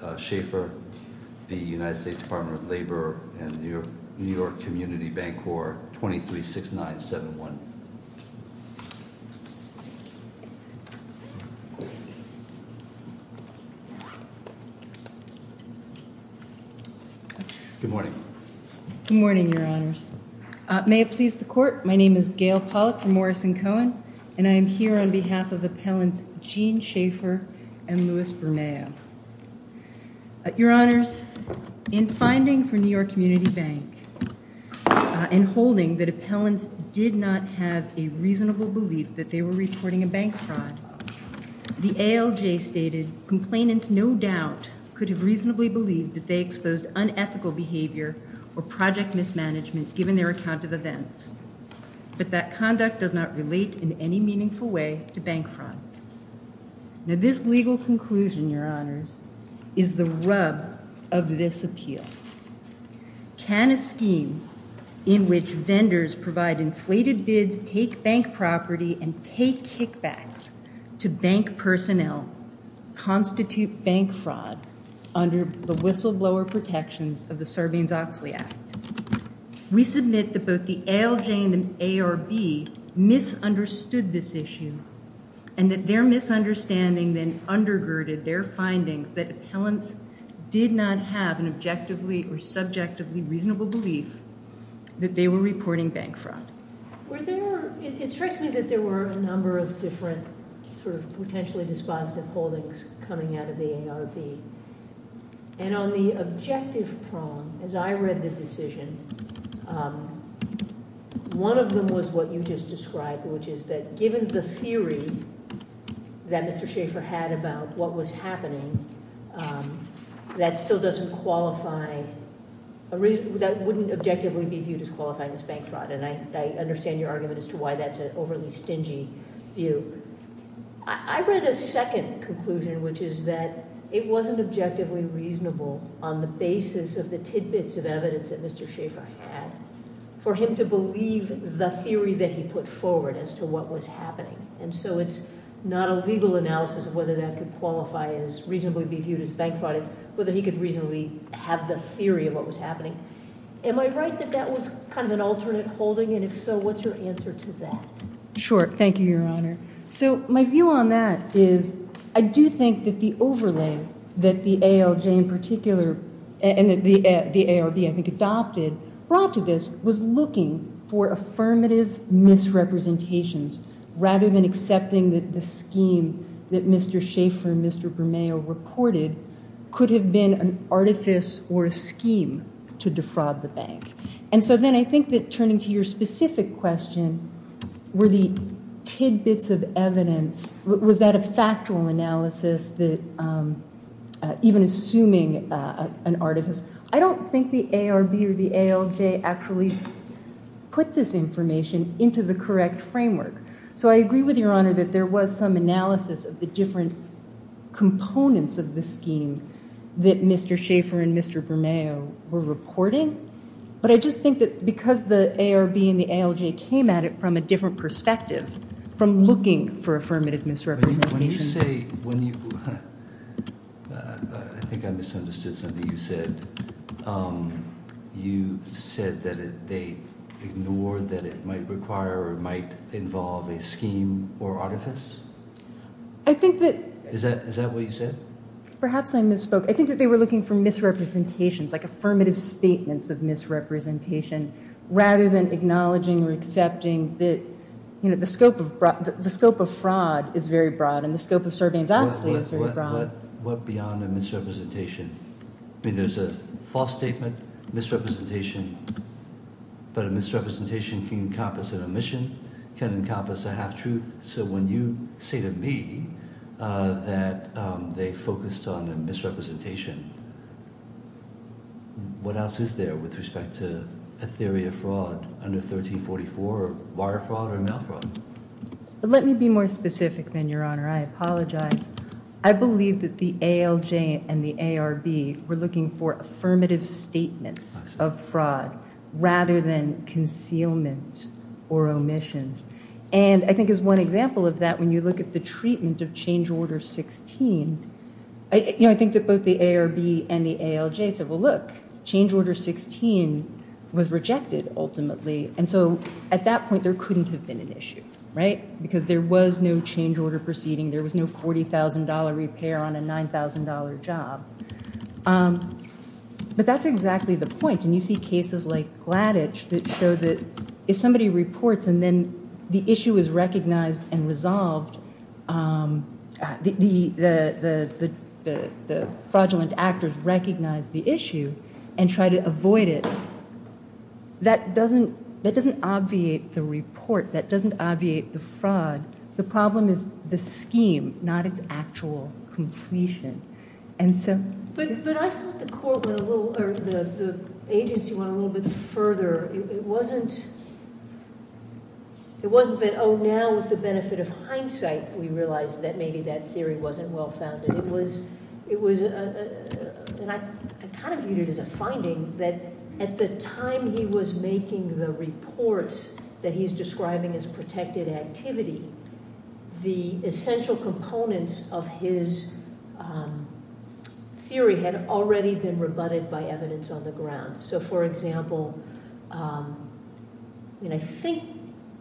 and the New York Community Bancorp 236971. Good morning. Good morning, Your Honors. May it please the Court, my name is Gail Pollack from Morrison-Cohen, and I am here on behalf of Appellants Gene Schaefer and Louis Bermeo. Your Honors, in finding for New York Community Bank and holding that appellants did not have a reasonable belief that they were reporting a bank fraud, the ALJ stated, Complainants no doubt could have reasonably believed that they exposed unethical behavior or project mismanagement given their account of events, but that conduct does not relate in any meaningful way to bank fraud. Now this legal conclusion, Your Honors, is the rub of this appeal. Can a scheme in which vendors provide inflated bids, take bank property, and pay kickbacks to bank personnel constitute bank fraud under the whistleblower protections of the Serbians-Oxley Act? We submit that both the ALJ and the ARB misunderstood this issue and that their misunderstanding then undergirded their findings that appellants did not have an objectively or subjectively reasonable belief that they were reporting bank fraud. It strikes me that there were a number of different sort of potentially dispositive holdings coming out of the ARB, and on the objective prong, as I read the decision, one of them was what you just described, which is that given the theory that Mr. Schaffer had about what was happening, that still doesn't qualify, that wouldn't objectively be viewed as qualifying as bank fraud, and I understand your argument as to why that's an overly stingy view. I read a second conclusion, which is that it wasn't objectively reasonable on the basis of the tidbits of evidence that Mr. Schaffer had for him to believe the theory that he put forward as to what was happening, and so it's not a legal analysis of whether that could qualify as reasonably be viewed as bank fraud. It's whether he could reasonably have the theory of what was happening. Am I right that that was kind of an alternate holding, and if so, what's your answer to that? Sure. Thank you, Your Honor. So my view on that is I do think that the overlay that the ALJ in particular, and the ARB, I think, adopted brought to this was looking for affirmative misrepresentations rather than accepting that the scheme that Mr. Schaffer and Mr. Bermeo reported could have been an artifice or a scheme to defraud the bank. And so then I think that turning to your specific question, were the tidbits of evidence, was that a factual analysis that even assuming an artifice, I don't think the ARB or the ALJ actually put this information into the correct framework. So I agree with Your Honor that there was some analysis of the different components of the scheme that Mr. Schaffer and Mr. Bermeo were reporting, but I just think that because the ARB and the ALJ came at it from a different perspective, from looking for affirmative misrepresentations. I think I misunderstood something you said. You said that they ignored that it might require or might involve a scheme or artifice? Is that what you said? Perhaps I misspoke. I think that they were looking for misrepresentations, like affirmative statements of misrepresentation, rather than acknowledging or accepting that the scope of fraud is very broad and the scope of surveillance misrepresentation. I mean, there's a false statement, misrepresentation, but a misrepresentation can encompass an omission, can encompass a half-truth. So when you say to me that they focused on a misrepresentation, what else is there with respect to a theory of fraud under 1344, wire fraud or mail fraud? Let me be more specific then, Your Honor. I apologize. I believe that the ALJ and the ARB were looking for affirmative statements of fraud rather than concealment or omissions. And I think as one example of that, when you look at the treatment of change order 16, I think that both the ARB and the ALJ said, well, look, change order 16 was rejected ultimately. And so at that point, there couldn't have been an issue, right? Because there was no change order proceeding. There was no $40,000 repair on a $9,000 job. But that's exactly the point. And you see cases like Gladich that show that if somebody reports and then the issue is recognized and resolved, the fraudulent actors recognize the issue and try to avoid it, that doesn't obviate the report. That doesn't obviate the fraud. The problem is the scheme, not its actual completion. But I thought the agency went a little bit further. It wasn't that, oh, now with the benefit of hindsight, we realized that maybe that theory wasn't well-founded. And I kind of viewed it as a finding that at the time he was making the reports that he's describing as protected activity, the essential components of his theory had already been rebutted by evidence on the ground. So, for example, I think,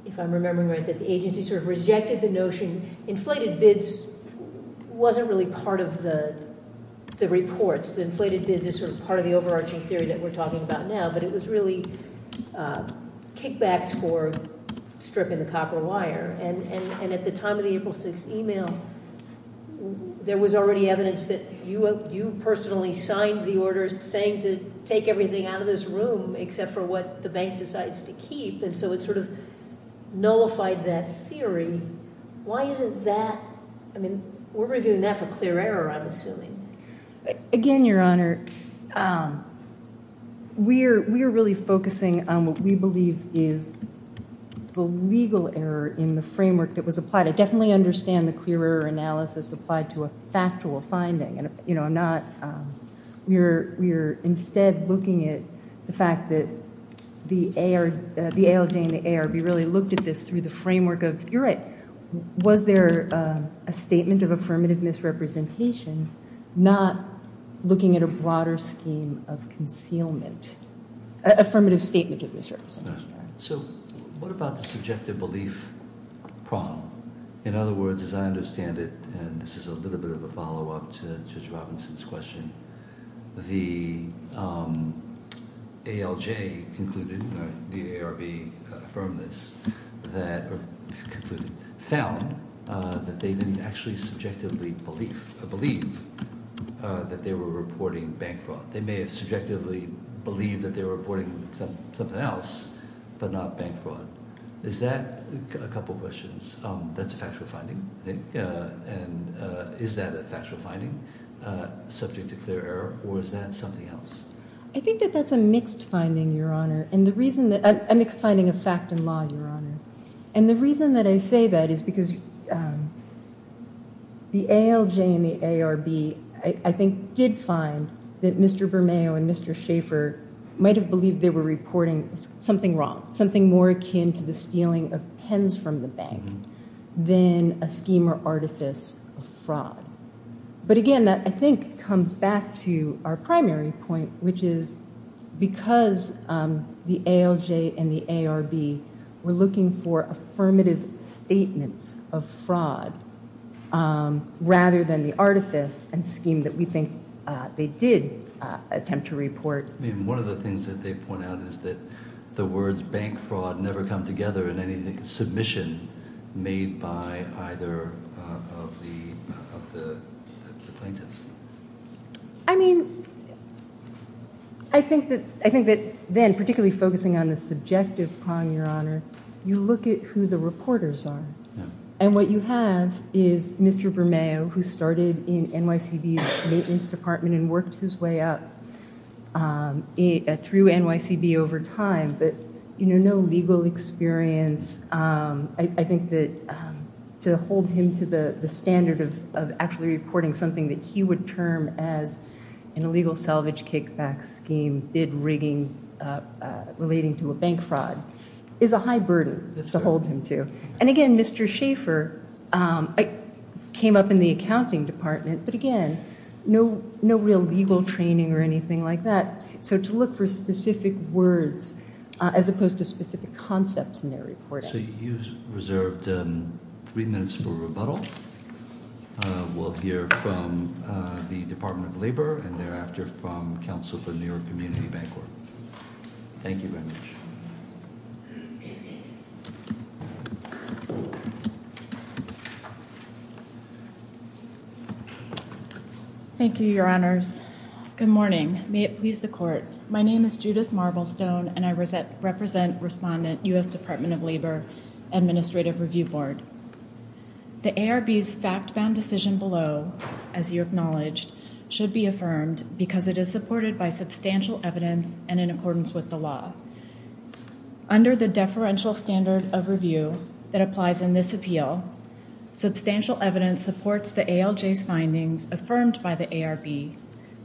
if I'm remembering right, that the agency sort of rejected the notion inflated bids wasn't really part of the reports. The inflated bids is sort of part of the overarching theory that we're talking about now. But it was really kickbacks for stripping the copper wire. And at the time of the April 6th email, there was already evidence that you personally signed the order saying to take everything out of this room except for what the bank decides to keep. And so it sort of nullified that theory. Why isn't that, I mean, we're reviewing that for clear error, I'm assuming. Again, Your Honor, we are really focusing on what we believe is the legal error in the framework that was applied. I definitely understand the clear error analysis applied to a factual finding. We're instead looking at the fact that the ALJ and the ARB really looked at this through the framework of, you're right, was there a statement of affirmative misrepresentation, not looking at a broader scheme of concealment, affirmative statement of misrepresentation. So what about the subjective belief problem? In other words, as I understand it, and this is a little bit of a follow-up to Judge Robinson's question, the ALJ concluded, the ARB affirmed this, found that they didn't actually subjectively believe that they were reporting bank fraud. They may have subjectively believed that they were reporting something else, but not bank fraud. Is that, a couple questions, that's a factual finding, I think, and is that a factual finding, subject to clear error, or is that something else? I think that that's a mixed finding, Your Honor. A mixed finding of fact and law, Your Honor. And the reason that I say that is because the ALJ and the ARB, I think, did find that Mr. Bermeo and Mr. Schaefer might have believed they were reporting something wrong, something more akin to the stealing of pens from the bank than a scheme or artifice of fraud. But again, that, I think, comes back to our primary point, which is because the ALJ and the ARB did not believe that they were reporting bank fraud, rather than the artifice and scheme that we think they did attempt to report. One of the things that they point out is that the words bank fraud never come together in any submission made by either of the plaintiffs. I mean, I think that then, particularly focusing on the subjective crime, Your Honor, you look at who the reporters are. And what you have is Mr. Bermeo, who started in NYCB's maintenance department and worked his way up through NYCB over time, but no legal experience. I think that to hold him to the standard of actually reporting something that he would term as an illegal salvage kickback scheme, bid rigging relating to a bank fraud, is a high burden to hold him to. And again, Mr. Schaefer came up in the accounting department, but again, no real legal training or anything like that. So to look for specific words as opposed to specific concepts in their reporting. So you've reserved three minutes for rebuttal. We'll hear from the Department of Labor and thereafter from counsel from the New York Community Bank Court. Thank you very much. Thank you, Your Honors. Good morning. May it please the Court. My name is Judith Marblestone and I represent Respondent U.S. Department of Labor Administrative Review Board. The ARB's fact-bound decision below, as you acknowledged, should be affirmed because it is supported by substantial evidence and in accordance with the law. Under the deferential standard of review that applies in this appeal, substantial evidence supports the ALJ's findings affirmed by the ARB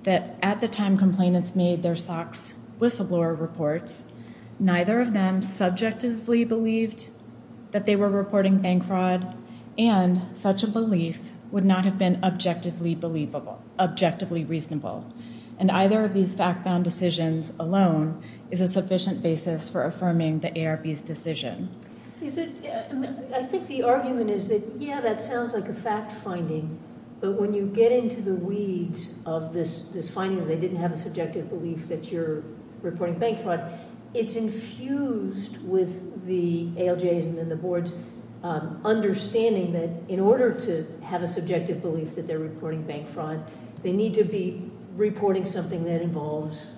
that at the time complainants made their SOX whistleblower reports, neither of them subjectively believed that they were reporting bank fraud and such a belief would not have been objectively reasonable. And either of these fact-bound decisions alone is a sufficient basis for affirming the ARB's decision. I think the argument is that, yeah, that sounds like a fact-finding, but when you get into the weeds of this finding that they didn't have a subjective belief that you're reporting bank fraud, it's infused with the ALJ's and then the Board's understanding that in order to have a subjective belief that they're reporting bank fraud, they need to be reporting something that involves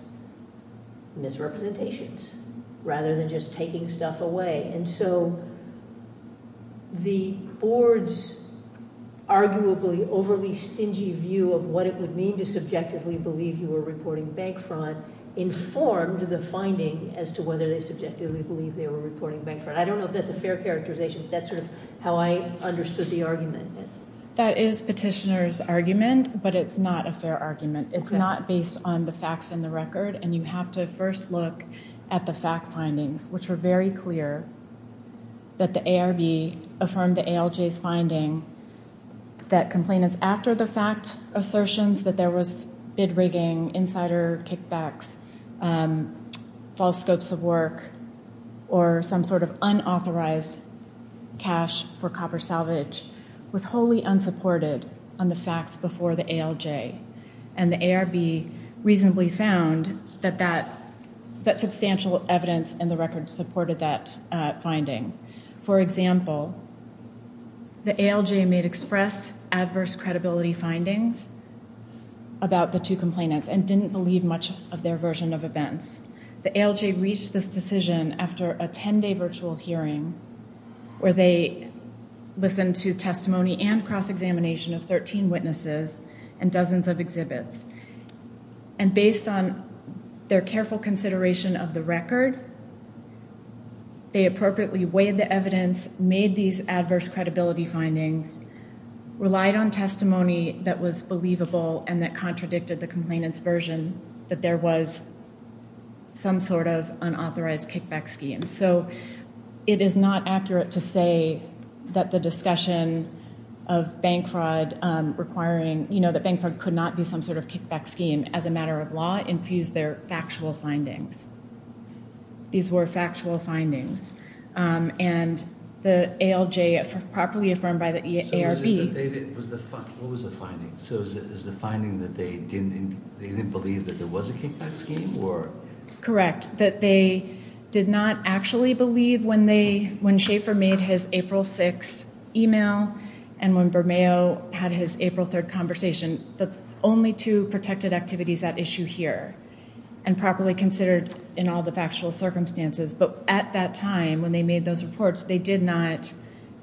misrepresentations rather than just taking stuff away. And so the Board's arguably overly stingy view of what it would mean to subjectively believe you were reporting bank fraud informed the finding as to whether they subjectively believed they were reporting bank fraud. I don't know if that's a fair characterization, but that's sort of how I understood the argument. That is Petitioner's argument, but it's not a fair argument. The ARB had the fact findings, which were very clear that the ARB affirmed the ALJ's finding that complainants after the fact assertions that there was bid rigging, insider kickbacks, false scopes of work, or some sort of unauthorized cash for copper salvage was wholly unsupported on the facts before the ALJ. And the ARB reasonably found that substantial evidence in the record supported that finding. For example, the ALJ made express adverse credibility findings about the two complainants and didn't believe much of their version of events. The ALJ reached this decision after a 10-day virtual hearing where they listened to testimony and cross-examination of 13 witnesses and dozens of exhibits. And based on their careful consideration of the record, they appropriately weighed the evidence, made these adverse credibility findings, relied on testimony that was believable and that contradicted the complainant's version that there was some sort of that the discussion of bank fraud requiring, you know, that bank fraud could not be some sort of kickback scheme as a matter of law, infused their factual findings. These were factual findings. And the ALJ properly affirmed by the ARB. What was the finding? So is the finding that they didn't believe that there was a kickback scheme? Correct. That they did not actually believe when Schaefer made his April 6 email and when Bermeo had his April 3rd conversation, the only two protected activities at issue here and properly considered in all the factual circumstances. But at that time when they made those reports, they did not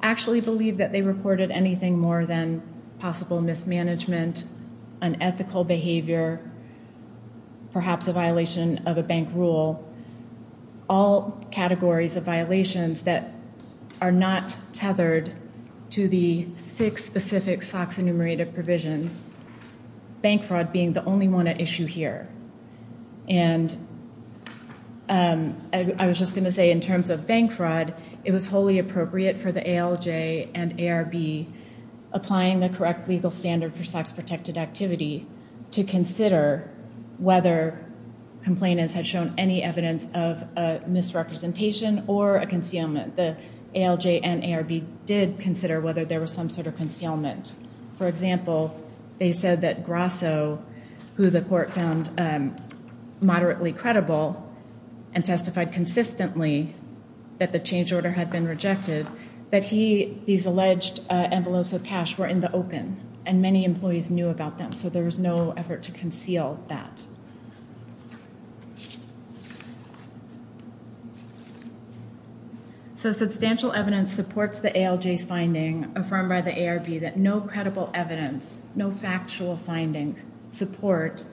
actually believe that they reported anything more than possible mismanagement, unethical behavior, perhaps a violation of a bank rule, all categories of violations that are not tethered to the six specific SOX enumerated provisions, bank fraud being the only one at issue here. And I was just going to say in terms of bank fraud, it was wholly appropriate for the ALJ and ARB applying the correct legal standard for SOX protected activity to consider whether complainants had shown any evidence of a misrepresentation or a concealment. The ALJ and ARB did consider whether there was some sort of concealment. For example, they said that Grasso, who the court found moderately credible and testified consistently that the change order had been rejected, that these alleged envelopes of cash were in the open and many employees knew about them. So there was no effort to conceal that. So substantial evidence supports the ALJ's finding affirmed by the ARB that no credible evidence, no actual findings support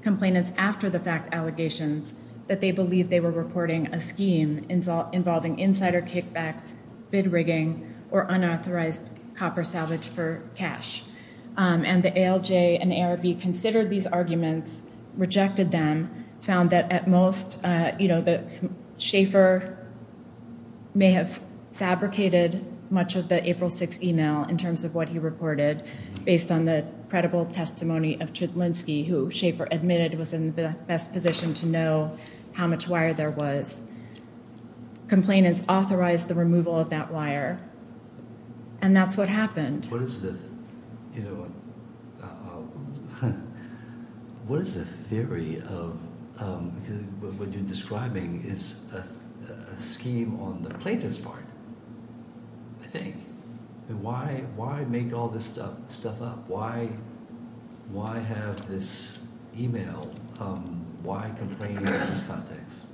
complainants after the fact allegations that they believed they were reporting a scheme involving insider kickbacks, bid rigging, or unauthorized copper salvage for cash. And the ALJ and ARB considered these arguments, rejected them, found that at most Schaefer may have fabricated much of the April 6 email in terms of what he reported based on the credible testimony of Chudlinski, who Schaefer admitted was in the best position to know how much wire there was. Complainants authorized the removal of that wire. And that's what happened. What is the theory of what you're saying? Why make all this stuff up? Why have this email? Why complain in this context?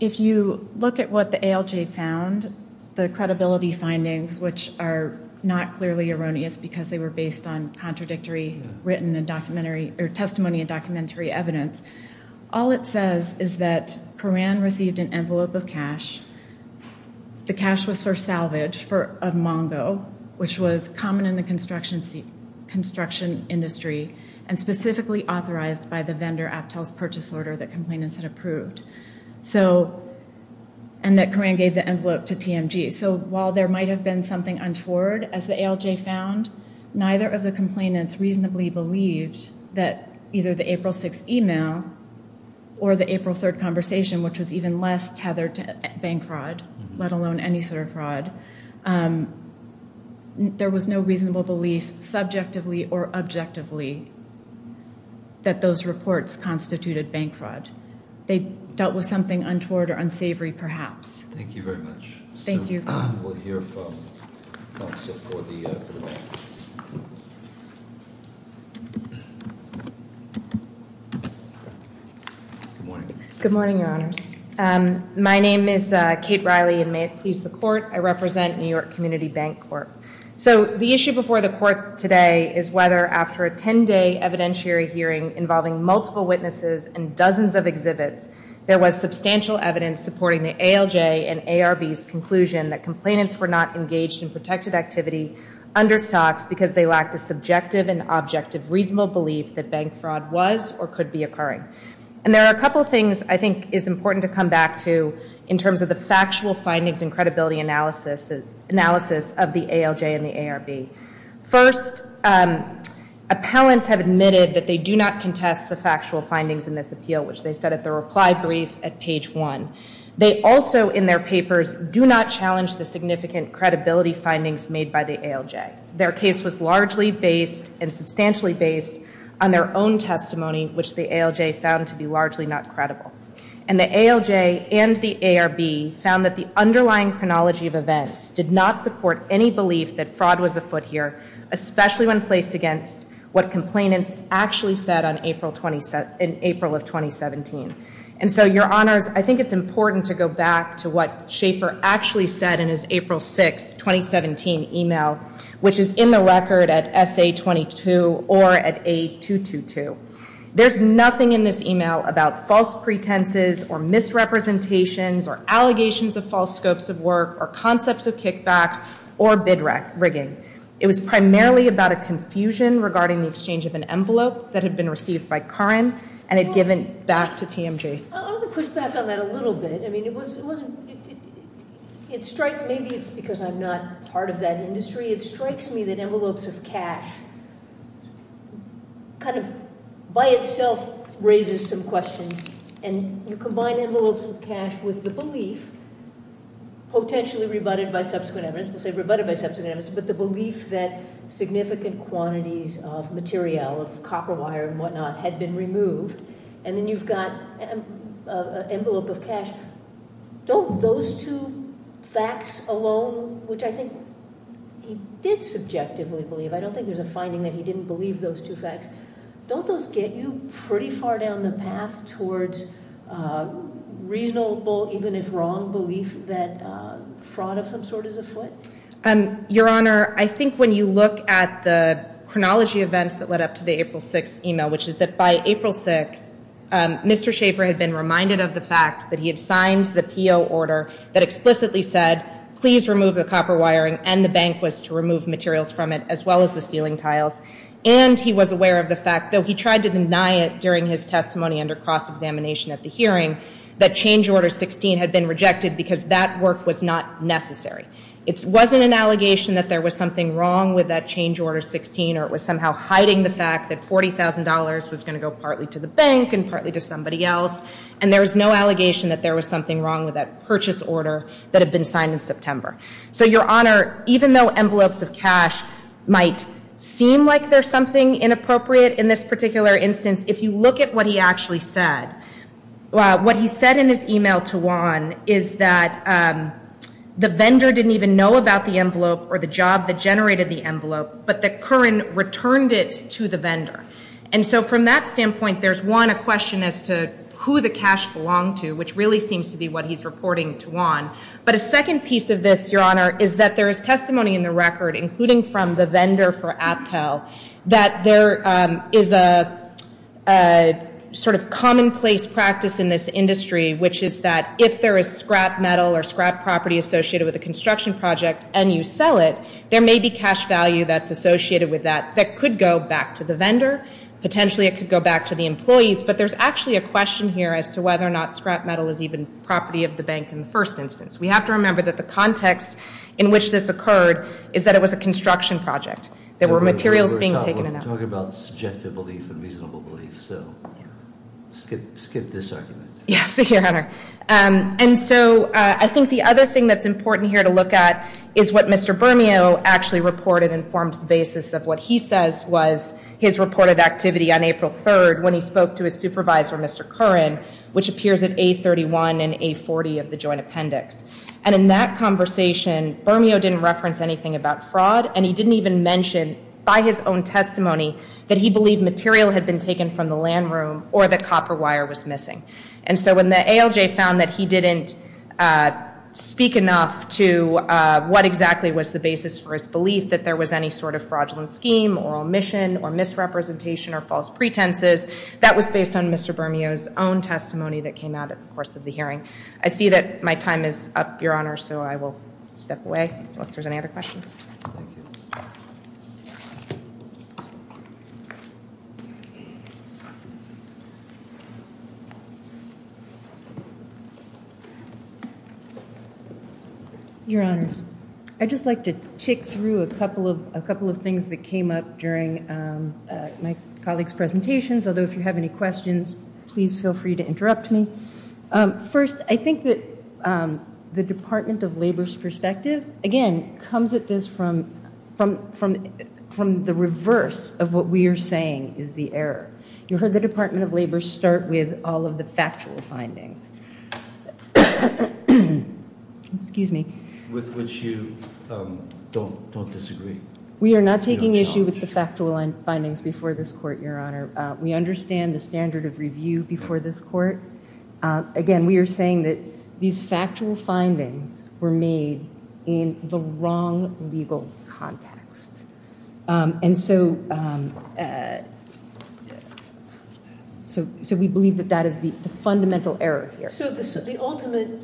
If you look at what the ALJ found, the credibility findings, which are not clearly erroneous because they were based on contradictory testimony and documentary evidence, all it says is that Coran received an envelope of cash. The cash was for salvage of Mongo, which was common in the construction industry and specifically authorized by the vendor Aptel's purchase order that complainants had approved. And that Coran gave the envelope to TMG. So while there might have been something untoward, as the ALJ found, neither of the reports constituted bank fraud, let alone any sort of fraud. There was no reasonable belief subjectively or objectively that those reports constituted bank fraud. They dealt with something untoward or unsavory, perhaps. Thank you very much. Thank you. We'll hear from Kate Riley. Good morning, Your Honors. My name is Kate Riley, and may it please the court, I represent New York Community Bank Corp. So the issue before the court today is whether after a 10-day evidentiary hearing involving multiple witnesses and dozens of exhibits, there was substantial evidence supporting the ALJ and ARB's conclusion that complainants were not engaged in protected activity under SOX because they lacked a subjective and objective reasonable belief that bank fraud was or could be occurring. And there are a couple things I think is important to come back to in terms of the factual findings and credibility analysis of the ALJ and the ARB. First, appellants have admitted that they do not contest the factual findings in this appeal, which they said at the reply brief at page 1. They also, in their papers, do not challenge the significant credibility findings made by the ALJ. Their case was largely based and substantially based on their own testimony, which the ALJ found to be largely not credible. And the ALJ and the ARB found that the underlying chronology of events did not support any belief that fraud was afoot here, especially when placed against what complainants actually said in April of 2017. And so, your honors, I think it's important to go back to what Schaefer actually said in his April 6, 2017 email, which is in the record at SA22 or at A222. There's nothing in this email about false pretenses or misrepresentations or allegations of false scopes of work or concepts of kickbacks or bid rigging. It was primarily about a confusion regarding the exchange of an envelope that had been received by Karin and had given back to TMJ. I want to push back on that a little bit. I mean, it wasn't, it strikes maybe it's because I'm not part of that industry. It strikes me that envelopes of cash kind of by itself raises some questions. And you combine envelopes of cash with the belief, potentially rebutted by subsequent evidence, we'll say rebutted by subsequent evidence, but the belief that significant quantities of materiel, of copper wire and whatnot, had been removed, and then you've got an envelope of cash. Don't those two facts alone, which I think he did subjectively believe, I don't think there's a finding that he didn't believe those two facts, don't those get you pretty far down the path towards reasonable, even if wrong, belief that fraud of some sort is afoot? Your Honor, I think when you look at the chronology events that led up to the April 6th email, which is that by April 6th, Mr. Schaffer had been reminded of the fact that he had signed the PO order that explicitly said, please remove the copper wiring and the banquets to remove materials from it, as well as the ceiling tiles. And he was aware of the fact, though he tried to deny it during his testimony under cross-examination at the hearing, that change order 16 had been rejected because that work was not necessary. It wasn't an allegation that there was something wrong with that change order 16, or it was somehow hiding the fact that $40,000 was going to go partly to the bank and partly to somebody else. And there was no allegation that there was something wrong with that purchase order that had been signed in September. So, Your Honor, even though envelopes of cash might seem like there's something inappropriate in this particular instance, if you look at what he actually said, what he said in his email to Juan is that the vendor didn't even know about the envelope or the job that generated the envelope, but that Curran returned it to the vendor. And so from that standpoint, there's, one, a question as to who the cash belonged to, which really seems to be what he's reporting to Juan. But a second piece of this, Your Honor, is that there is testimony in the record, including from the vendor for Aptel, that there is a sort of commonplace practice in this industry, which is that if there is scrap metal or scrap property associated with a construction project and you sell it, there may be cash value that's associated with that that could go back to the vendor. Potentially it could go back to the employees. But there's actually a question here as to whether or not scrap metal is even property of the bank in the first instance. We have to remember that the context in which this occurred is that it was a construction project. There were materials being taken out. We're talking about subjective belief and reasonable belief, so skip this argument. Yes, Your Honor. And so I think the other thing that's important here to look at is what Mr. Bermeo actually reported and forms the basis of what he says was his reported activity on April 3rd when he spoke to his supervisor, Mr. Curran, which appears at A31 and A40 of the joint appendix. And in that conversation, Bermeo didn't reference anything about fraud, and he didn't even mention by his own testimony that he believed material had been taken from the land room or that copper wire was missing. And so when the ALJ found that he didn't speak enough to what exactly was the basis for his belief that there was any sort of fraudulent scheme or omission or misrepresentation or false pretenses, that was based on Mr. Bermeo's own testimony that came out at the course of the hearing. I see that my time is up, Your Honor, so I will step away unless there's any other questions. Your Honors, I'd just like to tick through a couple of things that came up during my colleague's presentations, although if you have any questions, please feel free to interrupt me. First, I think that the Department of Labor's perspective, again, comes at this from the reverse of what we are saying is the error. You heard the Department of Labor start with all of the factual findings. Excuse me. With which you don't disagree. We are not taking issue with the factual findings before this court, Your Honor. We understand the standard of review before this court. Again, we are saying that these factual findings were made in the wrong legal context. We believe that that is the fundamental error here. The ultimate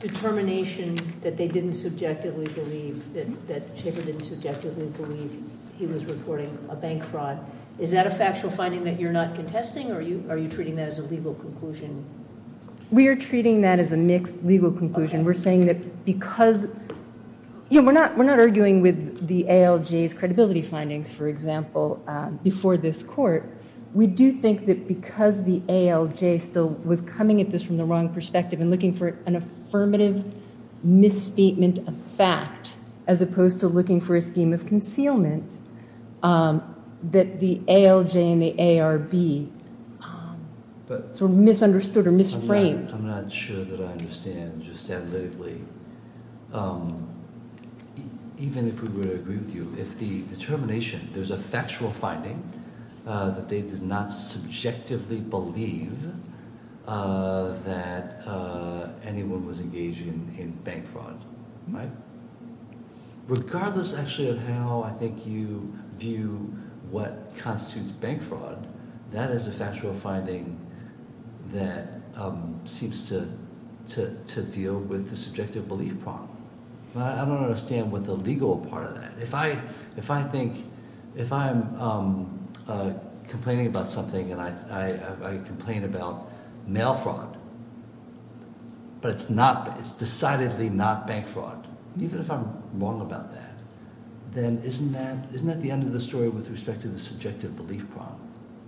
determination that they didn't subjectively believe, that Schaefer didn't subjectively believe he was reporting a bank fraud, is that a factual finding that you're not contesting, or are you treating that as a legal conclusion? We are treating that as a mixed legal conclusion. We're not arguing with the ALJ's credibility findings, for example, before this court. We do think that because the ALJ still was coming at this from the wrong perspective and looking for an affirmative misstatement of fact, as opposed to looking for a scheme of concealment, that the ALJ and the ARB sort of misunderstood or misframed. I'm not sure that I understand just analytically. Even if we were to agree with you, if the determination, there's a factual finding that they did not subjectively believe that anyone was engaging in bank fraud, regardless actually of how I think you view what constitutes bank fraud, that is a factual finding that seems to deal with the subjective belief problem. I don't understand the legal part of that. If I'm complaining about something and I complain about mail fraud, but it's decidedly not bank fraud, even if I'm wrong about that, then isn't that the end of the story with respect to the subjective belief problem?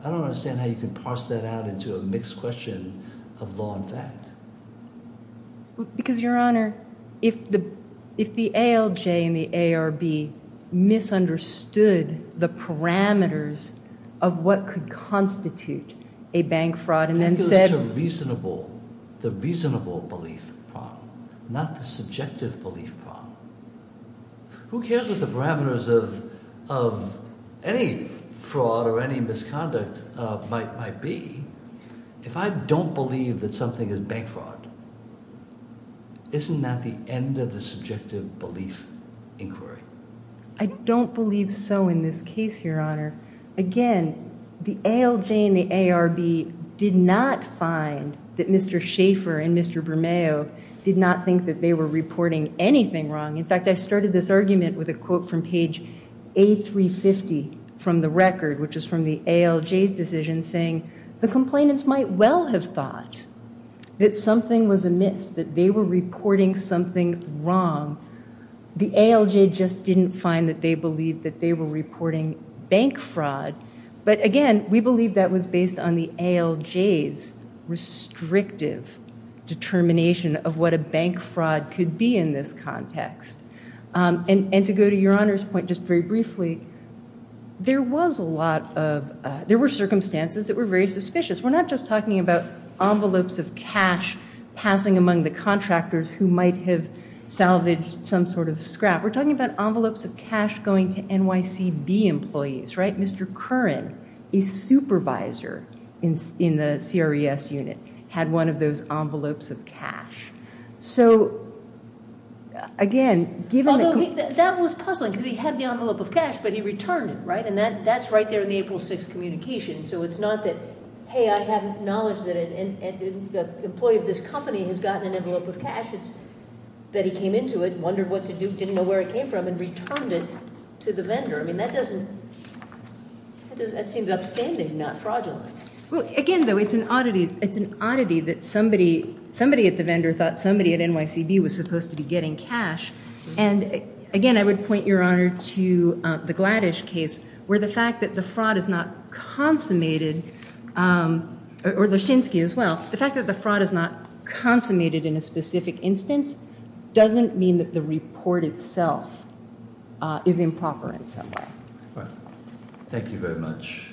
I don't understand how you can parse that out into a mixed question of law and fact. Because, Your Honor, if the ALJ and the ARB misunderstood the parameters of what could constitute a bank fraud and then said... That goes to the reasonable belief problem, not the subjective belief problem. Who cares what the parameters of any fraud or any misconduct might be? If I don't believe that something is bank fraud, isn't that the end of the subjective belief inquiry? I don't believe so in this case, Your Honor. Again, the ALJ and the ARB did not find that Mr. Schaefer and Mr. Brumeau did not think that they were reporting anything wrong. In fact, I started this argument with a quote from page A350 from the record, which is from the ALJ's decision, saying, the complainants might well have thought that something was amiss, that they were reporting something wrong. The ALJ just didn't find that they believed that they were reporting bank fraud. But again, we believe that was based on the ALJ's restrictive determination of what a bank fraud could be in this context. And to go to Your Honor's point just very briefly, there were circumstances that were very suspicious. We're not just talking about envelopes of cash passing among the contractors who might have salvaged some sort of scrap. We're talking about envelopes of cash going to NYCB employees, right? Mr. Curran, a supervisor in the CRES unit, had one of those envelopes of cash. So again, given that... That was puzzling, because he had the envelope of cash, but he returned it, right? And that's right there in the April 6th communication. So it's not that, hey, I have knowledge that an employee of this company has gotten an envelope of cash. It's that he came into it, wondered what to do, didn't know where it came from, and returned it to the vendor. I mean, that doesn't, that seems upstanding, not fraudulent. Well, again, though, it's an oddity that somebody at the vendor thought somebody at NYCB was supposed to be getting cash. And again, I would point Your Honor to the Gladish case, where the fact that the fraud is not consummated, or Loschinsky as well, the fact that the fraud is not consummated in a specific instance doesn't mean that the report itself is improper in some way. Thank you very much.